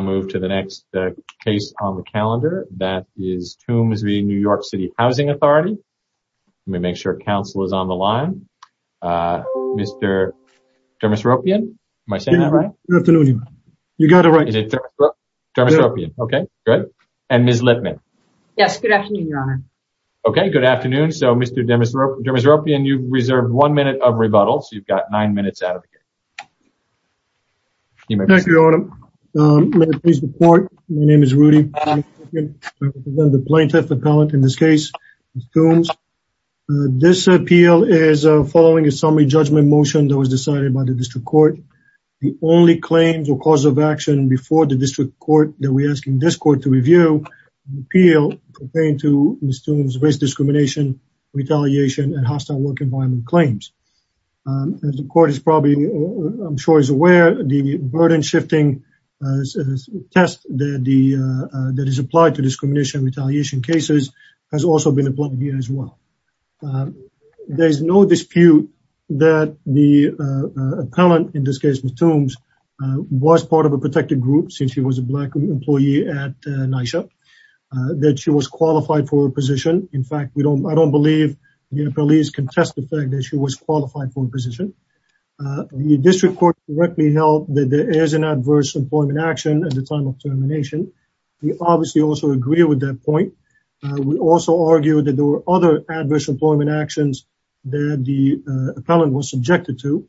Let me make sure council is on the line. Mr. Dermosropian, am I saying that right? You got it right. Dermosropian. Okay, good. And Ms. Lippman. Yes, good afternoon, Your Honor. Okay, good afternoon. So, Mr. Dermosropian, you've reserved one minute of rebuttal, so you've got nine minutes out of the game. I'm going to call you back in. I'm going to call you back in. This is a case report. My name is Rudy Blankenship. I represent the plaintiff appellate in this case, Ms. Toombs. This appeal is following a summary judgment motion that was decided by the district court. The only claims or cause of action before the district court that we're asking this court to review is an appeal obtained to Ms. Toombs race discrimination, retaliation, and hostile work environment claims. As the court is probably I'm sure is aware, the burden-shifting test that is applied to discrimination and retaliation cases has also been applied here as well. There's no dispute that the appellant in this case, Ms. Toombs, was part of a protected group since she was a black employee at NYSHA, that she was qualified for a position. In fact, I don't believe the appellees contest the fact that she was qualified for a position. The district court directly held that there is an adverse employment action at the time of termination. We obviously also agree with that point. We also argue that there were other adverse employment actions that the appellant was subjected to,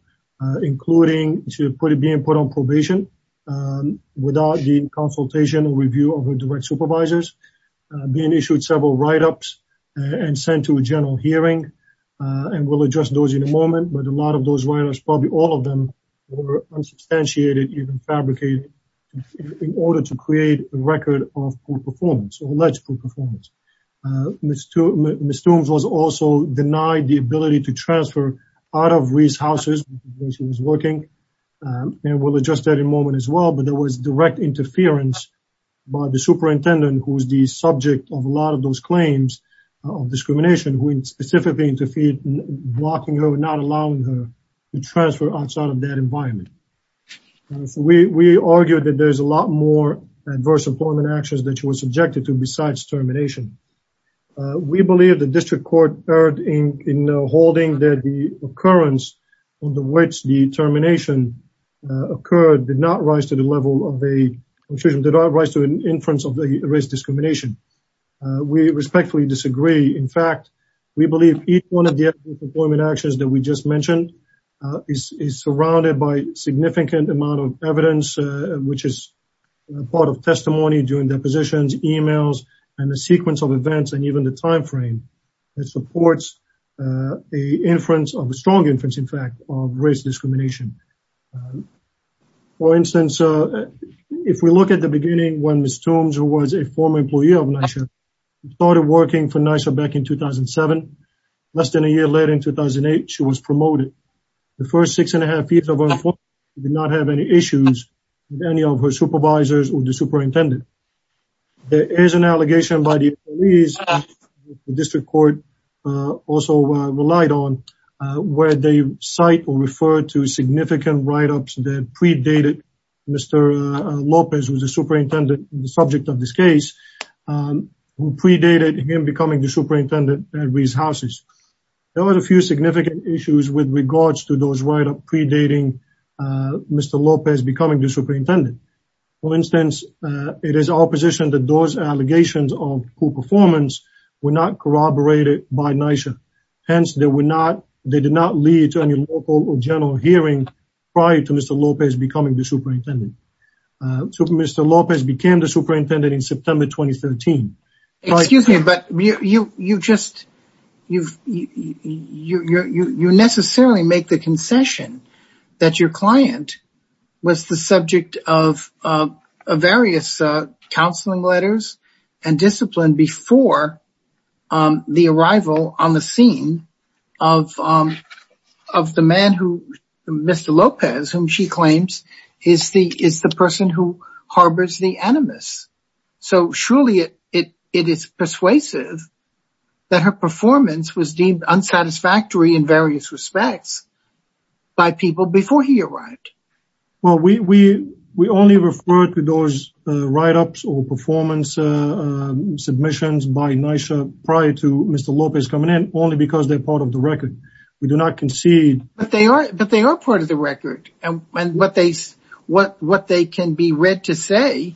including being put on probation without the consultation or review of her direct supervisors, being issued several write-ups, and sent to a general hearing, and we'll look at those write-ups. Probably all of them were unsubstantiated, even fabricated, in order to create a record of poor performance or alleged poor performance. Ms. Toombs was also denied the ability to transfer out of Reese Houses where she was working, and we'll adjust that in a moment as well, but there was direct interference by the superintendent, who was the subject of a lot of those claims of discrimination, who specifically interfered, blocking her, not allowing her to transfer outside of that environment. We argue that there's a lot more adverse employment actions that she was subjected to besides termination. We believe the District Court erred in holding that the occurrence under which the termination occurred did not rise to the level of a, excuse me, did not rise to an inference of a race discrimination. We respectfully disagree. In fact, we believe each one of the employment actions that we just mentioned is surrounded by significant amount of evidence which is part of testimony during depositions, emails, and the sequence of events and even the time frame. It supports a strong inference, in fact, of race discrimination. if we look at the beginning when Ms. Toombs, who was a former employee of NYSHA, started working for NYSHA back in 2007. Less than a year later, in 2008, she was promoted. The first six and a half years of her employment, she did not have any issues with any of her supervisors or the superintendent. There is an allegation by the police that the District Court also relied on where they cite or refer to significant write-ups that predated Mr. Lopez, who was the superintendent, the subject of this case, who predated him becoming the superintendent at Reese Houses. There were a few significant issues with regards to those write-ups predating Mr. Lopez becoming the superintendent. For instance, it is our position that those allegations of poor performance were not corroborated by NYSHA. Hence, they did not lead to any local or general hearing prior to Mr. Lopez becoming the superintendent. Mr. Lopez became the superintendent in September 2013. Excuse me, but you just you necessarily make the concession that your client was the subject of various counseling letters and discipline before the arrival on the scene of the man, Mr. Lopez, whom she claims is the person who harbors the animus. So, surely it is persuasive that her performance was deemed unsatisfactory in various respects by people before he arrived. Well, we only refer to those write-ups or performance submissions by NYSHA prior to Mr. Lopez coming in only because they're part of the record. We do not concede But they are part of the record and what they can be read to say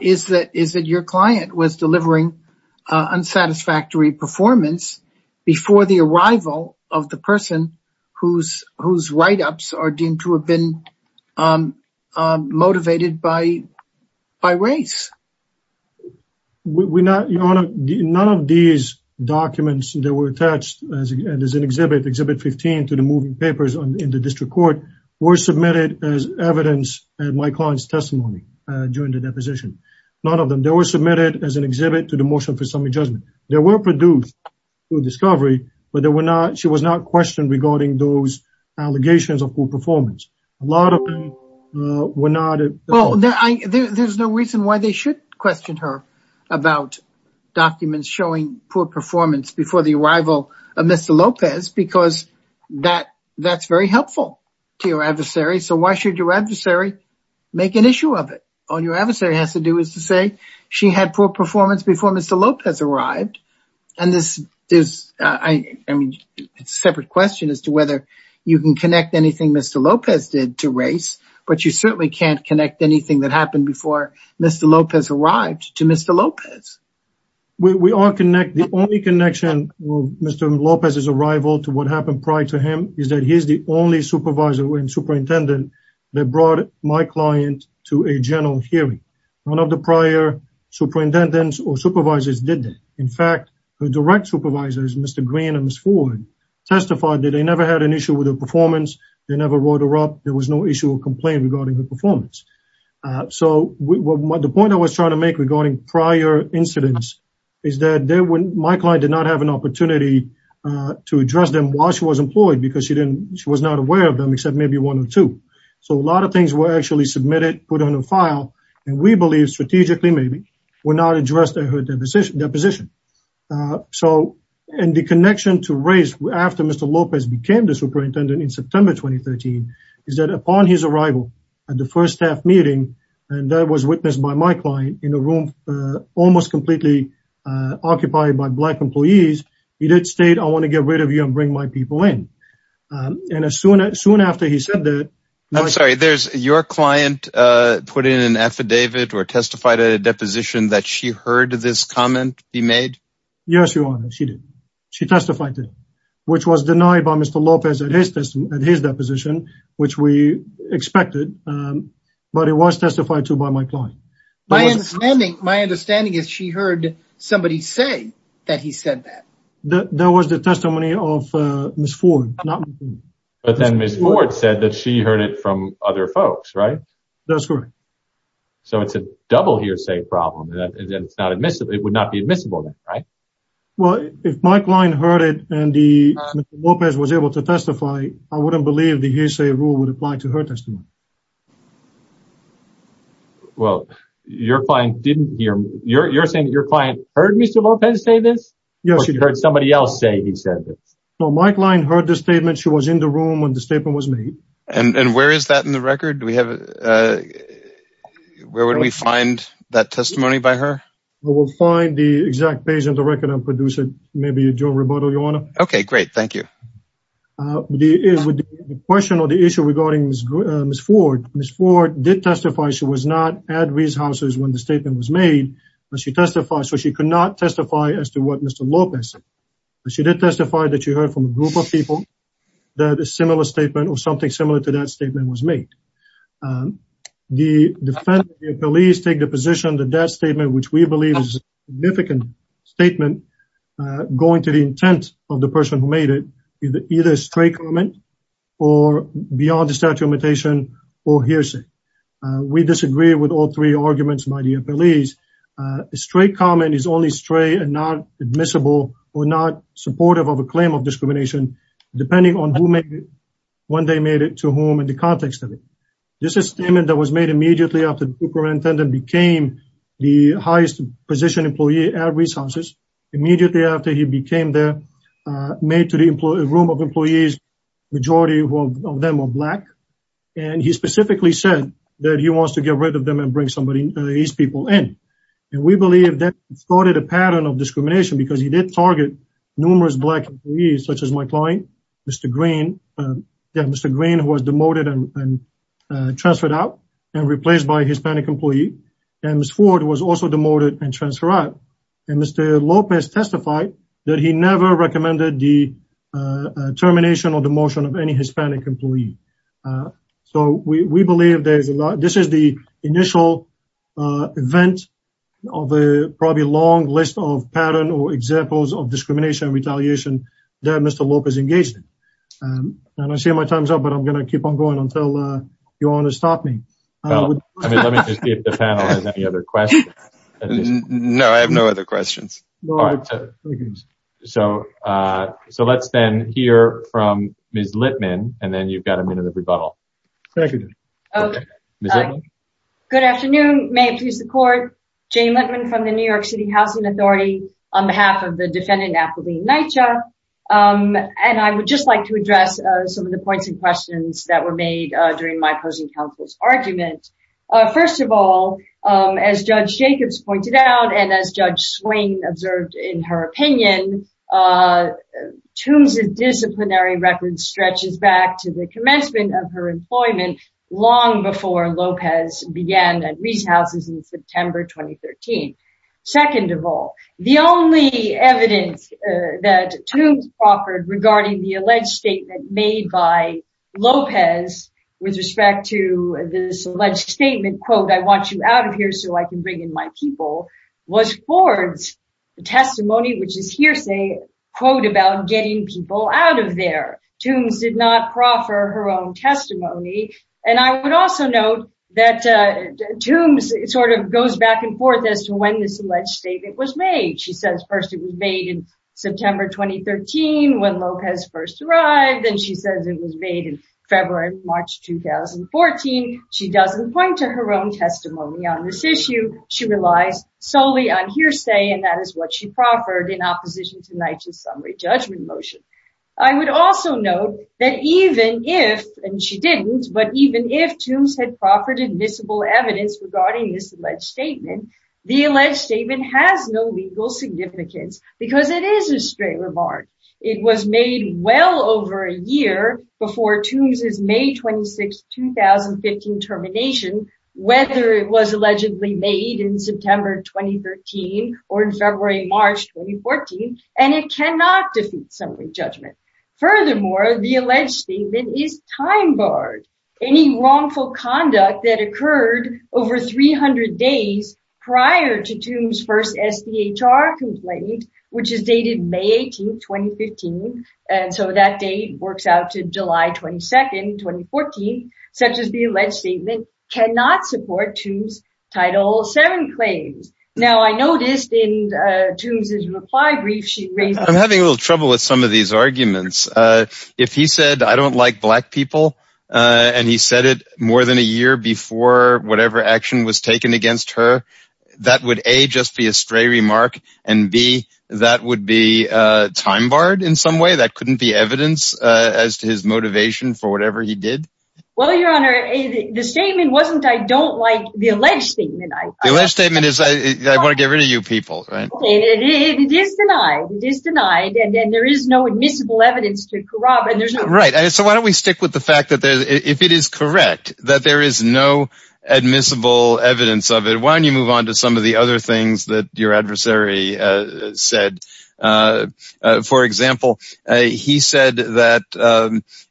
is that your client was delivering unsatisfactory performance before the arrival of the person whose write-ups are deemed to have been motivated by race. Your Honor, none of these documents that were attached as an exhibit, Exhibit 15 to the moving papers in the District Court were submitted as evidence at my client's testimony during the deposition. None of them. They were submitted as an exhibit to the Motion for Summary Judgment. They were produced through discovery, but they were not questioned regarding those allegations of poor performance. A lot of them were not There's no reason why they should question her about documents showing poor performance before the arrival of Mr. Lopez because that's very helpful to your adversary, so why should your adversary make an issue of it? All your adversary has to do is to say she had poor performance before Mr. Lopez arrived, and this is a separate question as to whether you can connect anything Mr. Lopez did to race, but you certainly can't connect anything that happened before Mr. Lopez arrived to Mr. Lopez. The only connection with Mr. Lopez's arrival to what happened prior to him is that he's the only supervisor and superintendent that brought my client to a general hearing. None of the prior superintendents or supervisors did that. In fact, the direct supervisors, Mr. Green and Ms. Ford, testified that they never had an issue with her performance. They never wrote her up. There was no issue or complaint regarding her performance. The point I was trying to make regarding prior incidents is that my client did not have an opportunity to address them while she was employed because she was not aware of them except maybe one or two. A lot of things were actually submitted, put on a file, and we believe, strategically maybe, were not addressed at her deposition. The connection to race after Mr. Lopez became the superintendent in September 2013 is that upon his arrival at the first staff meeting and that was witnessed by my client in a room almost completely occupied by Black employees, he did state, I want to get rid of you and bring my people in. Soon after he said that... I'm sorry, there's your client put in an affidavit or testified at a deposition that she heard this comment be made? Yes, Your Honor, she did. She testified to it, which was denied by Mr. Lopez at his deposition, which we testified to by my client. My understanding is she heard somebody say that he said that. That was the testimony of Ms. Ford. But then Ms. Ford said that she heard it from other folks, right? That's correct. So it's a double hearsay problem. It would not be admissible then, right? Well, if my client heard it and Mr. Lopez was able to testify, I wouldn't believe the hearsay rule would apply to her testimony. Well, you're saying that your client heard Mr. Lopez say this? Or she heard somebody else say he said this? My client heard the statement. She was in the room when the statement was made. And where is that in the record? Where would we find that testimony by her? We'll find the exact page in the record I'm producing. Maybe you, Your Honor. Okay, great. Thank you. The question or the issue regarding Ms. Ford, Ms. Ford did testify she was not at Rees Houses when the statement was made. She testified, so she could not testify as to what Mr. Lopez said. She did testify that she heard from a group of people that a similar statement or something similar to that statement was made. The police take the position that that statement, which we believe is a significant statement going to the intent of the person who made it is either a stray comment or beyond the statute of limitation or hearsay. We disagree with all three arguments by the police. A stray comment is only stray and not admissible or not supportive of a claim of discrimination depending on who made it, when they made it, to whom, and the context of it. This statement that was made immediately after the superintendent became the highest position employee at Rees Houses, immediately after he became there, made to the room of employees the majority of them were Black. He specifically said that he wants to get rid of them and bring these people in. We believe that started a pattern of discrimination because he did target numerous Black employees, such as my client, Mr. Green, who was demoted and transferred out and replaced by a Hispanic employee. Ms. Ford was also demoted and transferred out. Mr. Lopez testified that he never recommended the termination or demotion of any Hispanic employee. We believe this is the initial event of a probably long list of patterns or examples of discrimination and retaliation that Mr. Lopez engaged in. I don't see my time's up, but I'm going to keep on going until you want to stop me. Let me just see if the panel has any other questions. No, I have no other questions. Let's then hear from Ms. Littman and then you've got a minute of rebuttal. Thank you. Good afternoon. May it please the court. Jane Littman from the New York City Housing Authority on behalf of the defendant, Apolline Neitsch. I would just like to address some of the points and questions that were made during my opposing counsel's argument. First of all, as Judge Jacobs pointed out and as Judge Swain observed in her opinion, Toombs' disciplinary record stretches back to the commencement of her employment long before Lopez began at Reese Houses in September 2013. Second of all, the only evidence that Toombs offered regarding the alleged statement made by Lopez with respect to this alleged statement, quote, I want you out of here so I can bring in my people, was Ford's testimony, which is hearsay, quote, about getting people out of there. Toombs did not proffer her own testimony and I would also note that Toombs goes back and forth as to when this alleged statement was made. She says first it was made in September 2013 when Lopez first arrived then she says it was made in March 2014. She doesn't point to her own testimony on this issue. She relies solely on hearsay and that is what she proffered in opposition to Knight's summary judgment motion. I would also note that even if, and she didn't, but even if Toombs had proffered invisible evidence regarding this alleged statement, the alleged statement has no legal significance because it is a straight remark. It was made well over a year prior to the June 26, 2015 termination whether it was allegedly made in September 2013 or in February, March 2014 and it cannot defeat summary judgment. Furthermore, the alleged statement is time barred. Any wrongful conduct that occurred over 300 days prior to Toombs first SDHR complaint, which is dated May 18, 2015, and so that date works out to July 22, 2014, such as the alleged statement cannot support Toombs Title VII claims. Now I noticed in Toombs's reply brief she raised... I'm having a little trouble with some of these arguments. If he said, I don't like black people, and he said it more than a year before whatever action was taken against her, that would A, just be a stray remark and B, that would be time barred in some way? That couldn't be evidence as to his motivation for whatever he did? Well, Your Honor, the statement wasn't I don't like the alleged statement. The alleged statement is I want to get rid of you people. It is denied. It is denied and there is no admissible evidence to corroborate. So why don't we stick with the fact that if it is correct that there is no admissible evidence of it, why don't you move on to some of the other things that your adversary said? For example, he said that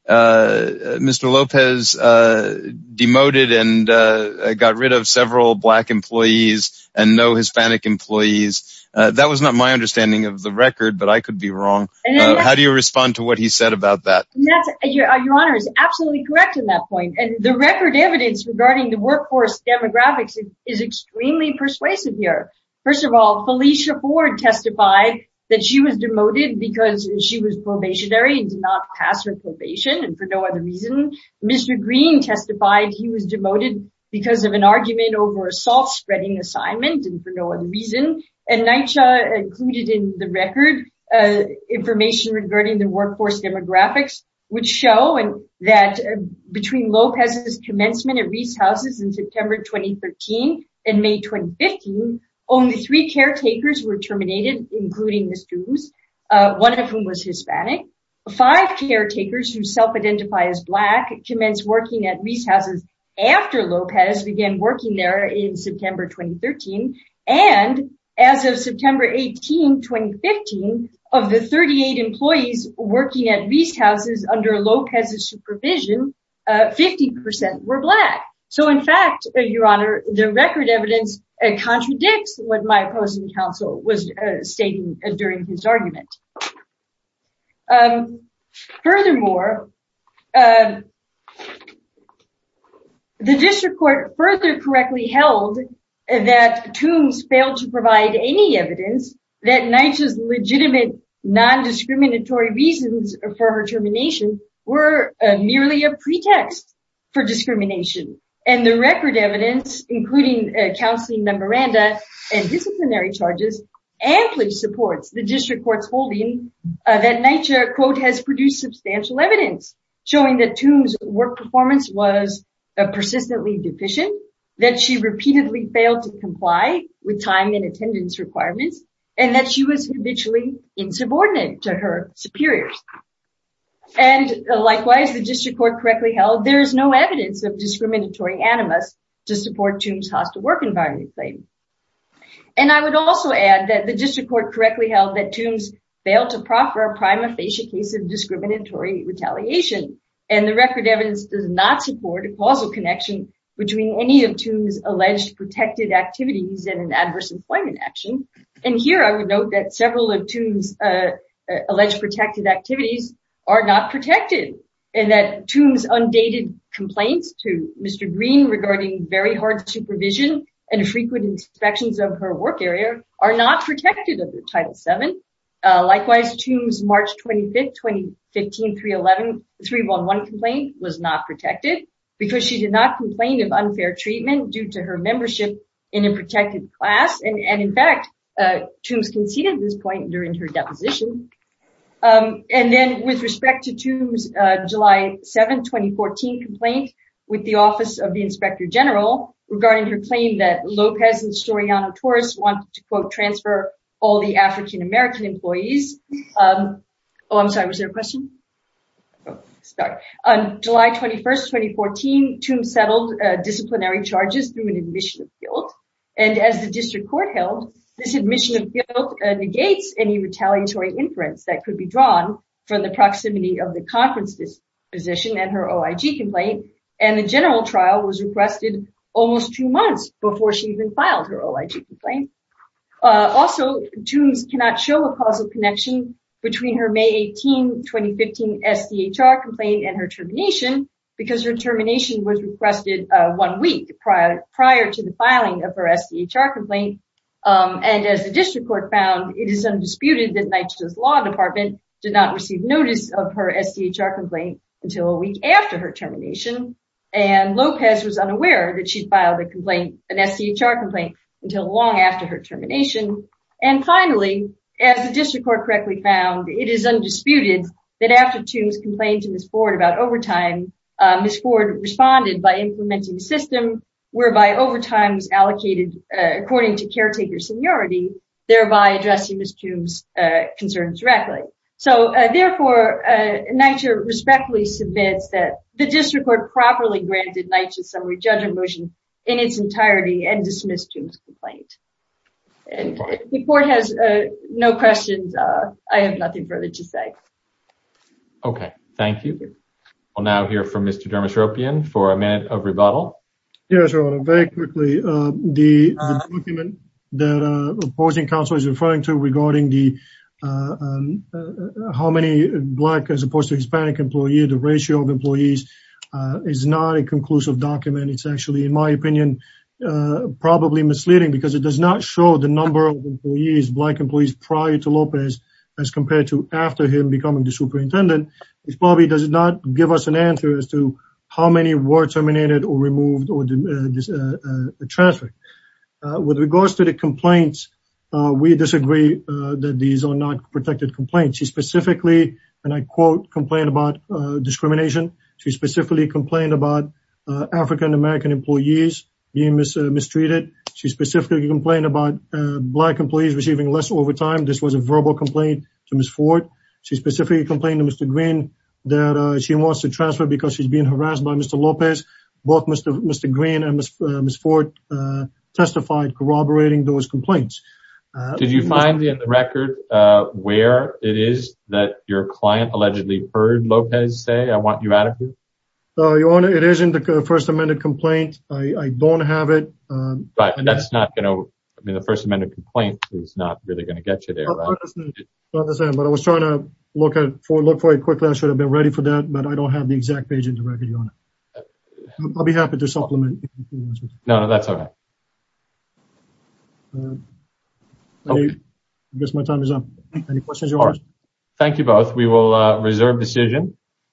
Mr. Lopez demoted and got rid of several black employees and no Hispanic employees. That was not my understanding of the record, but I could be wrong. How do you respond to what he said about that? Your Honor is absolutely correct in that point and the record evidence regarding the workforce demographics is extremely persuasive here. First of all, Felicia Ford testified that she was demoted because she was probationary and did not pass her probation for no other reason. Mr. Green testified he was demoted because of an argument over a soft spreading assignment and for no other reason. And NYCHA included in the record information regarding the workforce demographics which show that between Lopez's commencement at Reese Houses in September 2013 and May 2015, only three caretakers were terminated including Ms. Goomes, one of whom was Hispanic. Five caretakers who self-identify as black commenced working at Reese Houses after Lopez began working there in September 2013 and as of September 18, 2015 of the 38 employees working at Reese Houses under Lopez's supervision, 50% were black. So in fact, Your Honor, the record evidence contradicts what my opposing counsel was stating during his argument. Furthermore, the district court further correctly held that Goomes failed to provide any evidence that NYCHA's legitimate non-discriminatory reasons for her termination were merely a pretext for discrimination. And the record evidence, including counseling memoranda and disciplinary charges, amply supports the district court's holding that NYCHA, quote, has produced substantial evidence showing that Goomes' work performance was persistently deficient, that she repeatedly failed to comply with time and attendance requirements, and that she was habitually insubordinate to her superiors. And there is no evidence of discriminatory animus to support Goomes' hostile work environment claim. And I would also add that the district court correctly held that Goomes failed to proffer a prima facie case of discriminatory retaliation, and the record evidence does not support a causal connection between any of Goomes' alleged protected activities and an adverse employment action. And here I would note that several of Goomes' alleged protected activities are not protected, and that Goomes' undated complaints to Mr. Green regarding very hard supervision and frequent inspections of her work area are not protected under Title VII. Likewise, Goomes' March 25, 2015 311 complaint was not protected because she did not complain of unfair treatment due to her membership in a protected class, and in fact Goomes conceded this point during her deposition. And then with respect to Goomes' July 7, 2014 complaint with the Office of the Inspector General regarding her claim that Lopez and Soriano-Torres wanted to transfer all the African-American employees. Oh, I'm sorry, was there a question? Sorry. On July 21, 2014, Goomes settled disciplinary charges through an admission of guilt, and as the district court held, this admission of guilt negates any retaliatory inference that could be drawn from the proximity of the conference disposition and her OIG complaint, and the general trial was requested almost two months before she even filed her OIG complaint. Also, Goomes cannot show a causal connection between her May 18, 2015 SDHR complaint and her termination, because her termination was requested one week prior to the filing of her SDHR complaint, and as the district court found, it is undisputed that NYCHA's law department did not receive notice of her SDHR complaint until a week after her termination, and Lopez was unaware that she filed an SDHR complaint until long after her termination, and finally, as the district court correctly found, it is undisputed that after Goomes complained to Ms. Ford about overtime, Ms. Ford responded by implementing a system whereby overtime was allocated according to caretaker seniority, thereby addressing Ms. Goomes' concerns directly. So, therefore, NYCHA respectfully submits that the district court properly granted NYCHA's summary judgment motion in its entirety and dismissed Goomes' complaint. The court has no questions. I have nothing further to say. Okay. Thank you. I'll now hear from Mr. Dermosropian for a minute of rebuttal. Yes, Your Honor. Very quickly, the document that opposing counsel is referring to regarding the how many Black as opposed to Hispanic employee, the ratio of employees is not a conclusive document. It's actually, in my opinion, probably misleading because it does not show the number of employees, Black employees, prior to Lopez as compared to after him becoming the superintendent. It probably does not give us an answer as to how many were terminated or removed or transferred. With regards to the complaints, we disagree that these are not protected complaints. She specifically, and I quote, complained about discrimination. She specifically complained about African-American employees being mistreated. She specifically complained about Black employees receiving less overtime. This was a verbal complaint to Ms. Ford. She specifically complained to Mr. Green that she wants to transfer because she's being harassed by Mr. Lopez. Both Mr. Green and Ms. Ford testified corroborating those complaints. Did you find in the record where it is that your client allegedly heard Lopez say, I want you out of here? Your Honor, it is in the First Amendment complaint. I don't have it. But that's not going to, I mean, the First Amendment complaint is not really going to get you there. But I was trying to look for it quickly. I should have been ready for that, but I don't have the exact page in the record, Your Honor. I'll be happy to supplement. No, no, that's all right. I guess my time is up. Any questions, Your Honor? Thank you both. We will reserve decision.